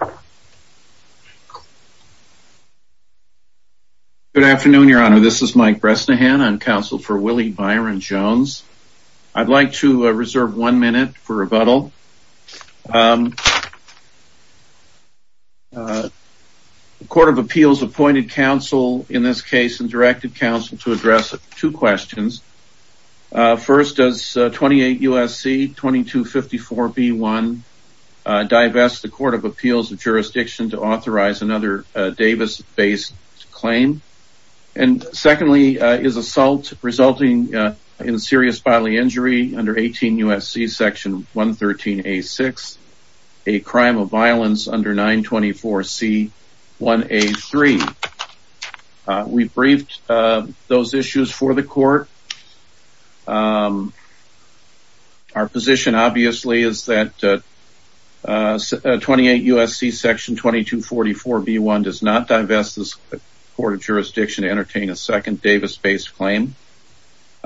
Good afternoon, Your Honor. This is Mike Bresnahan on counsel for Willie Byron Jones. I'd like to reserve one minute for rebuttal. The Court of Appeals appointed counsel in this case and directed counsel to address two questions. First, does 28 U.S.C. 2254b1 divest the Court of Appeals of Jurisdiction to authorize another Davis-based claim? And secondly, is assault resulting in serious bodily injury under 18 U.S.C. section 113a6 a crime of violence under 924c1a3? We briefed those issues for the Court. Our position, obviously, is that 28 U.S.C. section 2244b1 does not divest the Court of Jurisdiction to entertain a second Davis-based claim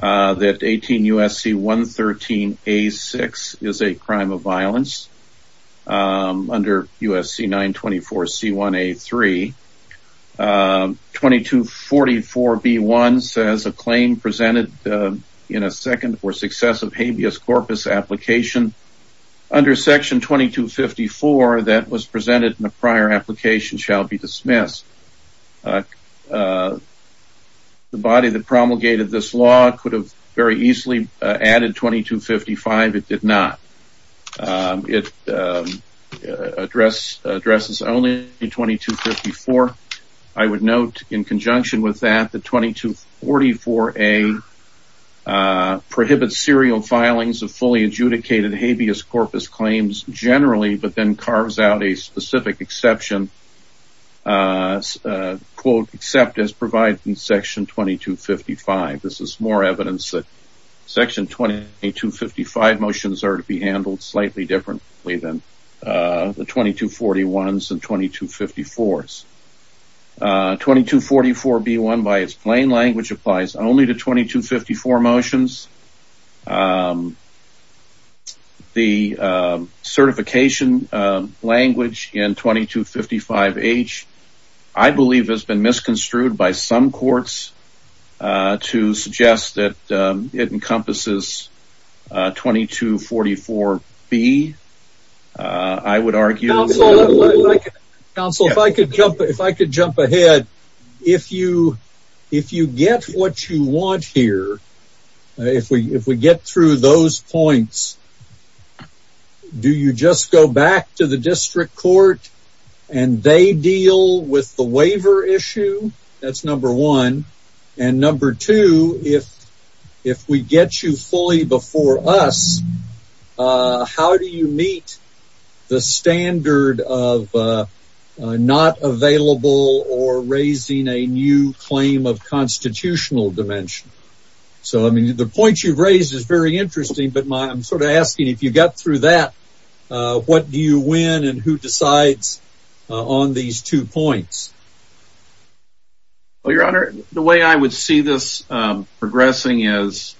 that 18 U.S.C. 113a6 is a crime of violence under 924c1a3. 2244b1 says a claim presented in a second or successive habeas corpus application under section 2254 that was presented in a prior application shall be dismissed. The body that promulgated this law could have very easily added 2255. It did not. It addresses only 2254. I would note in conjunction with that that 2244a prohibits serial filings of fully adjudicated habeas corpus claims generally, but then carves out a specific exception, quote, except as provided in section 2255. This is more evidence that section 2255 motions are to be handled slightly differently than the 2241s and 2254s. 2244b1, by its plain language, applies only to 2254 motions. The certification language in 2255h, I believe, has been misconstrued by some courts to suggest that it encompasses 2244b. I would argue... Counsel, if I could jump ahead. If you get what you want here, if we get through those points, do you just go back to the district court and they deal with the waiver issue? That's number one. And number two, if we get you fully before us, how do you meet the standard of not available or raising a new claim of constitutional dimension? So, I mean, the point you've raised is very interesting, but I'm sort of asking if you got through that, what do you win and who decides on these two points? Well, your honor, the way I would see this progressing is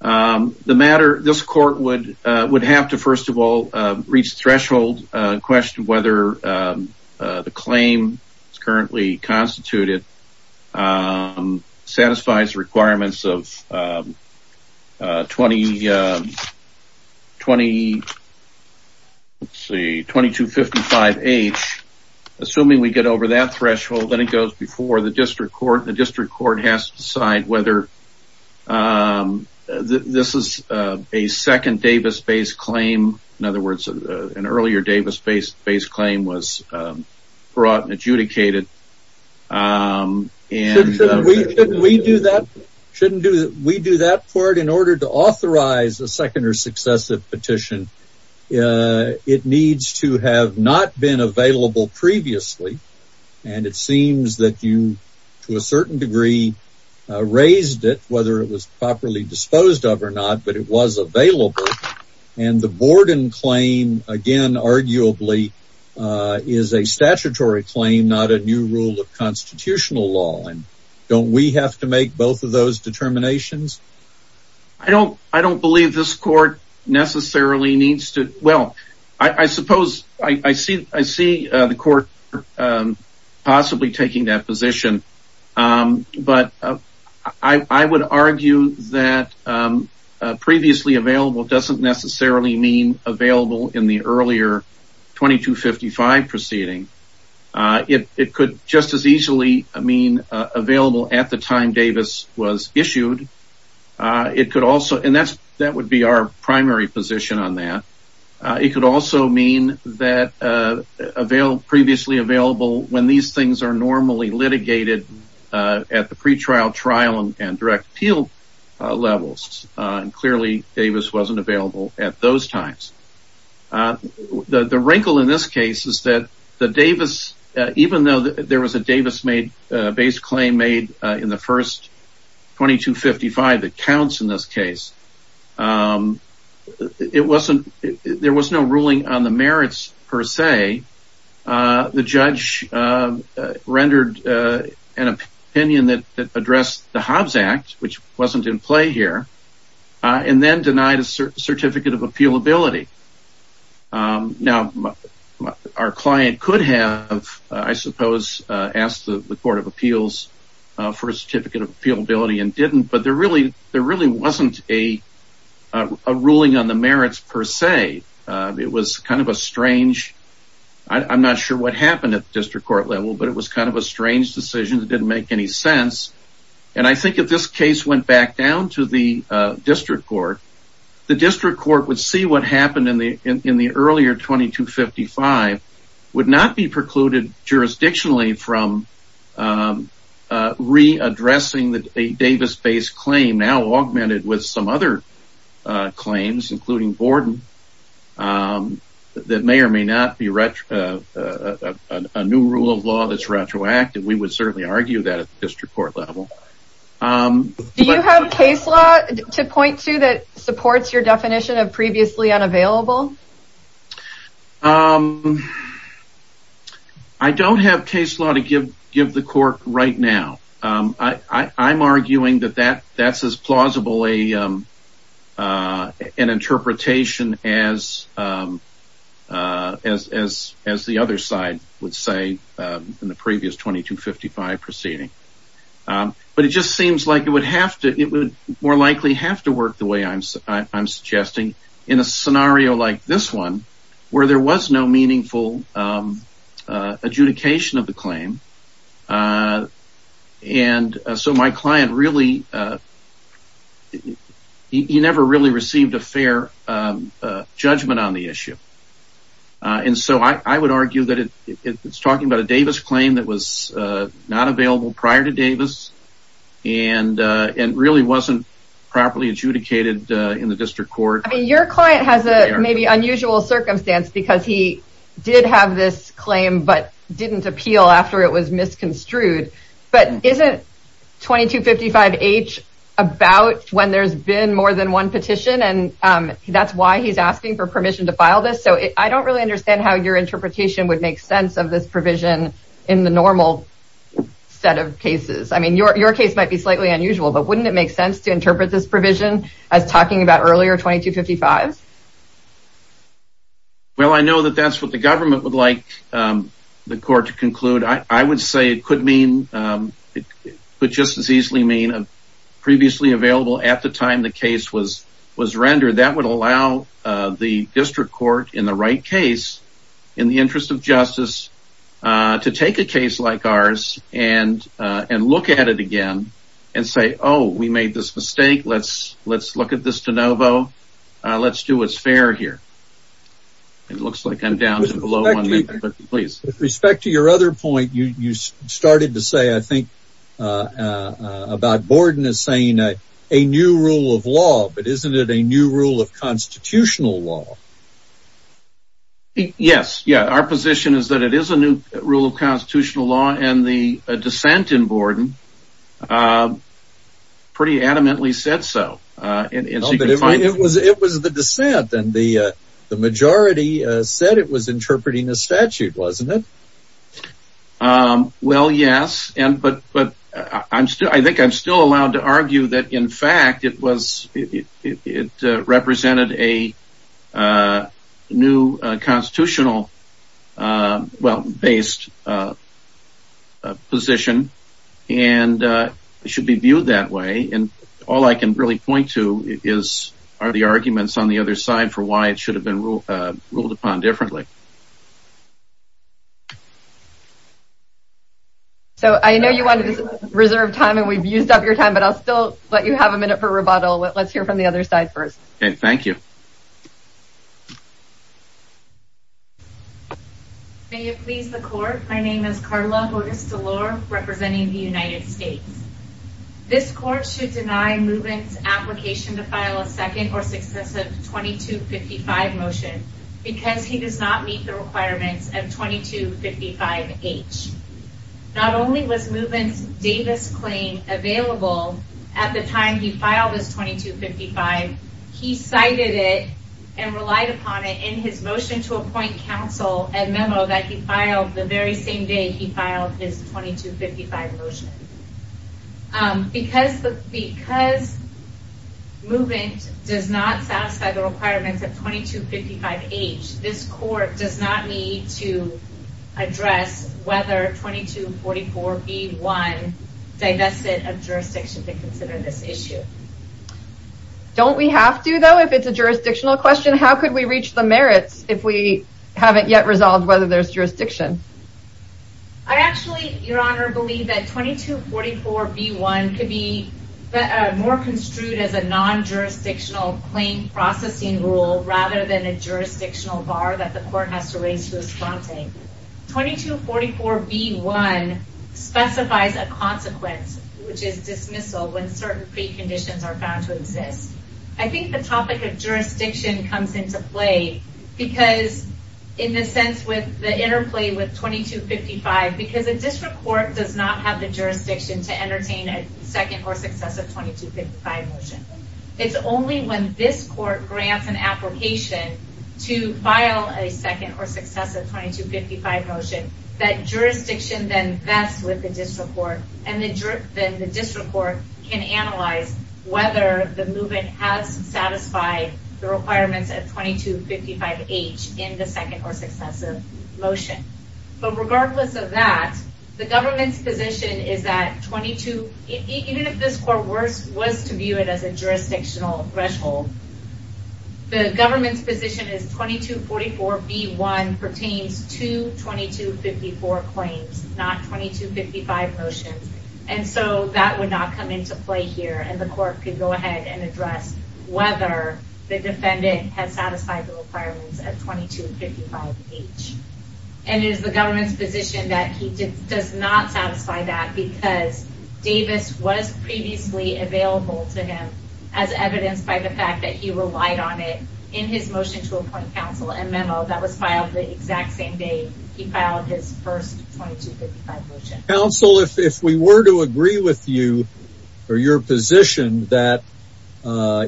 the matter, this court would have to, first of all, reach threshold question whether the claim is currently constituted and satisfies requirements of 2255h. Assuming we get over that threshold, then it goes before the district court. The district court has to decide whether this is a second Davis-based claim. In other words, an earlier Davis-based claim was brought and adjudicated. We do that part in order to authorize a second or successive petition. It needs to have not been available previously, and it seems that you, to a certain degree, raised it, whether it was properly disposed of or not, but it was available. The Borden claim, again, arguably, is a statutory claim, not a new rule of constitutional law. Don't we have to make both of those determinations? I don't believe this court necessarily needs to. Well, I suppose I see the court possibly taking that position, but I would argue that previously available doesn't necessarily mean available in the earlier 2255 proceeding. It could just as easily mean available at the time Davis was issued. That would be our primary position on that. It could also mean that available previously available when these things are normally litigated at the pretrial trial and direct appeal levels. Clearly, Davis wasn't available at those times. The wrinkle in this case is that the Davis, even though there was a Davis-based claim made in the first 2255 that counts in this case, there was no ruling on the merits per se. The judge rendered an opinion that addressed the Hobbs Act, which wasn't in play here, and then denied a certificate of appealability. Now, our client could have, I suppose, asked the Court of Appeals for a certificate of appealability and didn't, but there really wasn't a ruling on the merits per se. It was kind of a strange, I'm not sure what happened at the district court level, but it was kind of a strange decision that didn't make any sense. I think if this case went back down to the district court, the district court would see what happened in the earlier 2255 would not be precluded jurisdictionally from readdressing a Davis-based claim now augmented with some other claims, including Borden, that may or may not be a new rule of law that's retroactive. We would certainly argue that at the district court level. Do you have case law to point to that supports your definition of previously unavailable? I don't have case law to give the court right now. I'm arguing that that's as plausible an interpretation as the other side would say in the previous 2255 proceeding, but it just seems like it would have to, it would more likely have to work the way I'm suggesting in a scenario like this one where there was no meaningful adjudication of the claim, and so my client really, he never really received a fair judgment on the issue, and so I would argue that it's talking about a Davis claim that was not available prior to Davis and really wasn't properly adjudicated in the district court. I mean, your client has a maybe unusual circumstance because he did have this claim but didn't appeal after it was misconstrued, but isn't 2255-H about when there's been more than one petition and that's why he's asking for permission to file this, so I don't really understand how your interpretation would make sense of this provision in the normal set of cases. I mean, your case might be slightly unusual, but wouldn't it make sense to interpret this provision as talking about earlier 2255s? Well, I know that that's what the government would like the court to conclude. I would say it could mean, it could just as easily mean a previously available at the time the case was rendered. That would allow the district court in the right case in the interest of justice to take a case like ours and look at it again and say, oh, we made this mistake. Let's look at this de novo. Let's do what's fair here. It looks like I'm down to below. With respect to your other point, you started to say, I think, about Borden is saying a new rule of law, but isn't it a new rule of constitutional law? Yes, our position is that it is a new rule of constitutional law and the dissent in Borden pretty adamantly said so. It was the dissent and the majority said it was interpreting a statute, wasn't it? Well, yes, but I think I'm still allowed to argue that in fact it was, it represented a new constitutional, well-based position and it should be viewed that way. And all I can really point to is are the arguments on the other side for why it should have been ruled upon differently. So I know you wanted to reserve time and we've still let you have a minute for rebuttal, but let's hear from the other side first. Okay, thank you. May it please the court, my name is Karla Augusta-Lore representing the United States. This court should deny Movement's application to file a second or successive 2255 motion because he does not meet the requirements of 2255H. Not only was Movement's Davis claim available at the time he filed his 2255, he cited it and relied upon it in his motion to appoint counsel and memo that he filed the very same day he filed his 2255 motion. Because Movement does not satisfy the requirements of 2255H, this court does not need to address whether 2244B1 divested of jurisdiction to consider this issue. Don't we have to though if it's a jurisdictional question? How could we reach the merits if we haven't yet resolved whether there's jurisdiction? I actually, your honor, believe that 2244B1 could be more construed as a non-jurisdictional claim processing rule rather than a jurisdictional bar that the court has to raise to a spontane. 2244B1 specifies a consequence which is dismissal when certain preconditions are found to exist. I think the topic of jurisdiction comes into play because in the sense with the interplay with 2255 because a district court does not have the jurisdiction to entertain a second or successive 2255 motion. It's only when this court grants an application to file a second or successive 2255 motion that jurisdiction then vets with the district court and then the district court can analyze whether the movement has satisfied the requirements of 2255H in the second or successive motion. But regardless of that, the government's position is that 22, even if this was to view it as a jurisdictional threshold, the government's position is 2244B1 pertains to 2254 claims not 2255 motions and so that would not come into play here and the court could go ahead and address whether the defendant has satisfied the requirements at 2255H. And it is the government's position that he does not satisfy that because Davis was previously available to him as evidenced by the fact that he relied on it in his motion to appoint counsel and memo that was filed the exact same day he filed his first 2255 motion. Counsel, if we were to agree with you or your position that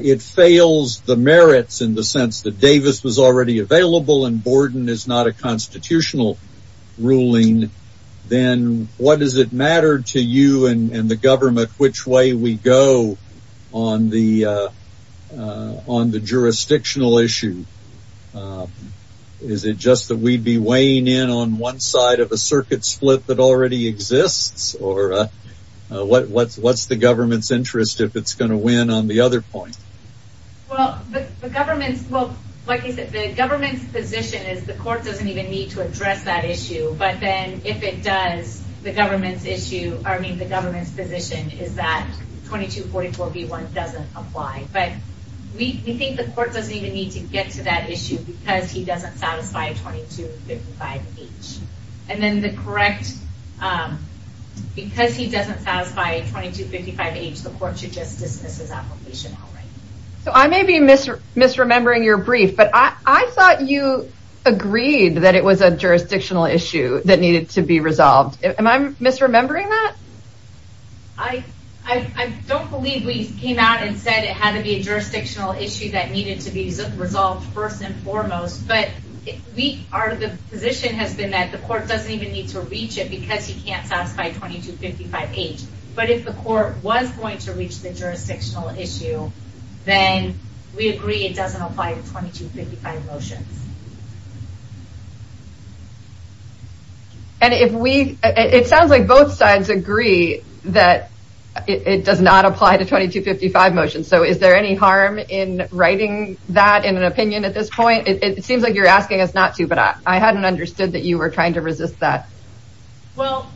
it fails the merits in the sense that Davis was already available and Borden is not a constitutional ruling, then what does it matter to you and the government which way we go on the jurisdictional issue? Is it just that we would be weighing in on one side of a circuit split that already exists? Or what is the government's interest if it is going to win on the other point? Well, the government's position is the court doesn't even need to address that issue. But then if it does, the government's position is that 2244B1 doesn't apply. But we think the court doesn't even need to get to that issue because he doesn't satisfy 2255H. And then the correct because he doesn't satisfy 2255H, the court should just dismiss his application. So I may be misremembering your brief, but I thought you agreed that it was a jurisdictional issue that needed to be resolved. Am I misremembering that? I don't believe we came out and said it had to be a jurisdictional issue that needed to be resolved first and foremost, but we are the position has been that the court doesn't even need to reach it because he can't satisfy 2255H. But if the court was going to reach the jurisdictional issue, then we agree it doesn't apply to 2255 motions. And if we it sounds like both sides agree that it does not apply to 2255 motions. So is there any harm in writing that in an opinion at this point? It seems like you're asking us not to but I hadn't understood that you were trying to resist that. Well,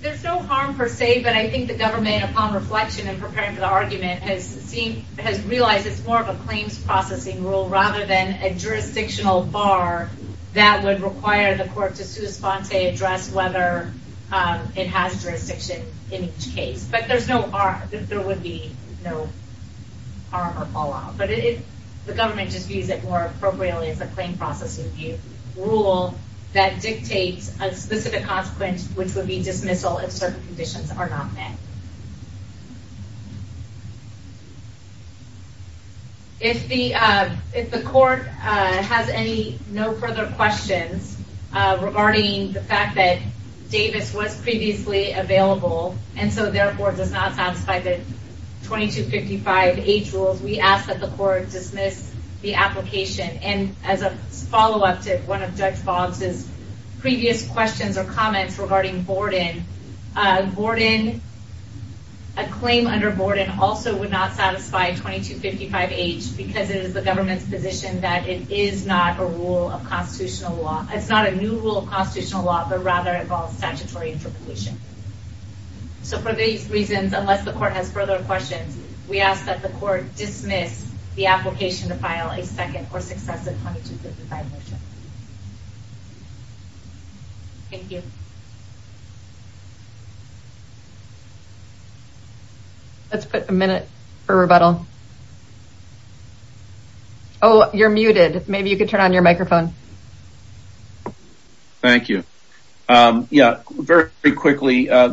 there's no harm per se. But I think the government upon reflection and preparing for the argument has seen has realized it's more of a claims processing rule rather than a jurisdictional bar that would require the court to sui sponte address whether it has jurisdiction in each case, but there's no there would be no harm or fallout. But if the government just views it more appropriately as a claim processing rule that dictates a specific consequence, which would be dismissal if certain conditions are not met. If the if the court has any no further questions regarding the fact that does not satisfy the 2255 age rules, we ask that the court dismiss the application. And as a follow up to one of Judge Boggs's previous questions or comments regarding Borden, Borden, a claim under Borden also would not satisfy 2255H because it is the government's position that it is not a rule of constitutional law. It's not a new rule of constitutional law, but rather involves statutory interpolation. So for these reasons, unless the court has further questions, we ask that the court dismiss the application to file a second or successive motion. Thank you. Let's put a minute for rebuttal. Oh, you're muted. Maybe you could turn on your microphone. Thank you. Yeah, very quickly. Our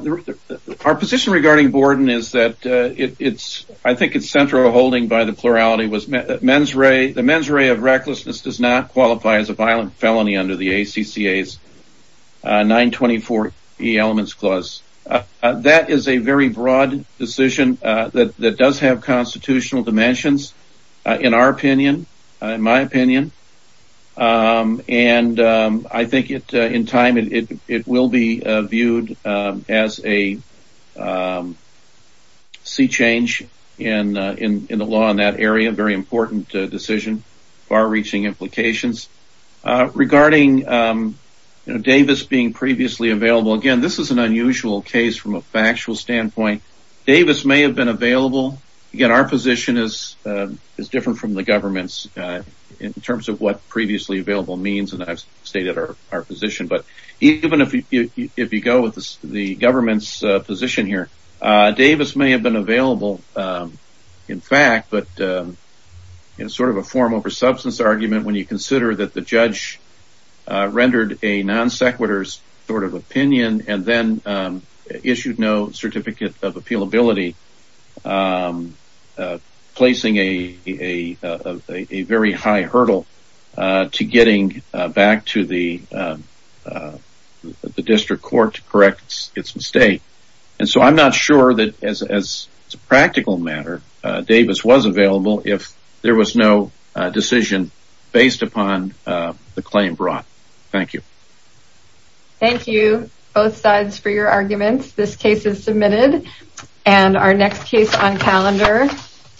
position regarding Borden is that it's I think it's central holding by the plurality was mens rea. The mens rea of recklessness does not qualify as a violent felony under the ACCA's 924 Elements Clause. That is a very broad decision that does have constitutional dimensions in our opinion, in my opinion. And I think in time it will be viewed as a sea change in the law in that area. Very important decision, far reaching implications. Regarding Davis being previously available, again, this is an unusual case from a factual standpoint. Davis may have been available. Again, our position is different from the government's in terms of what previously available means. And I've stated our position. But even if you go with the government's position here, Davis may have been available, in fact, but in sort of a form over substance argument, when you consider that the judge rendered a non sequitur sort of opinion and then issued no certificate of appealability, placing a very high hurdle to getting back to the district court to correct its mistake. And so I'm not sure that as a practical matter, Davis was available if there was no decision based upon the claim brought. Thank you. Thank you both sides for your arguments. This case is submitted and our next case on calendar.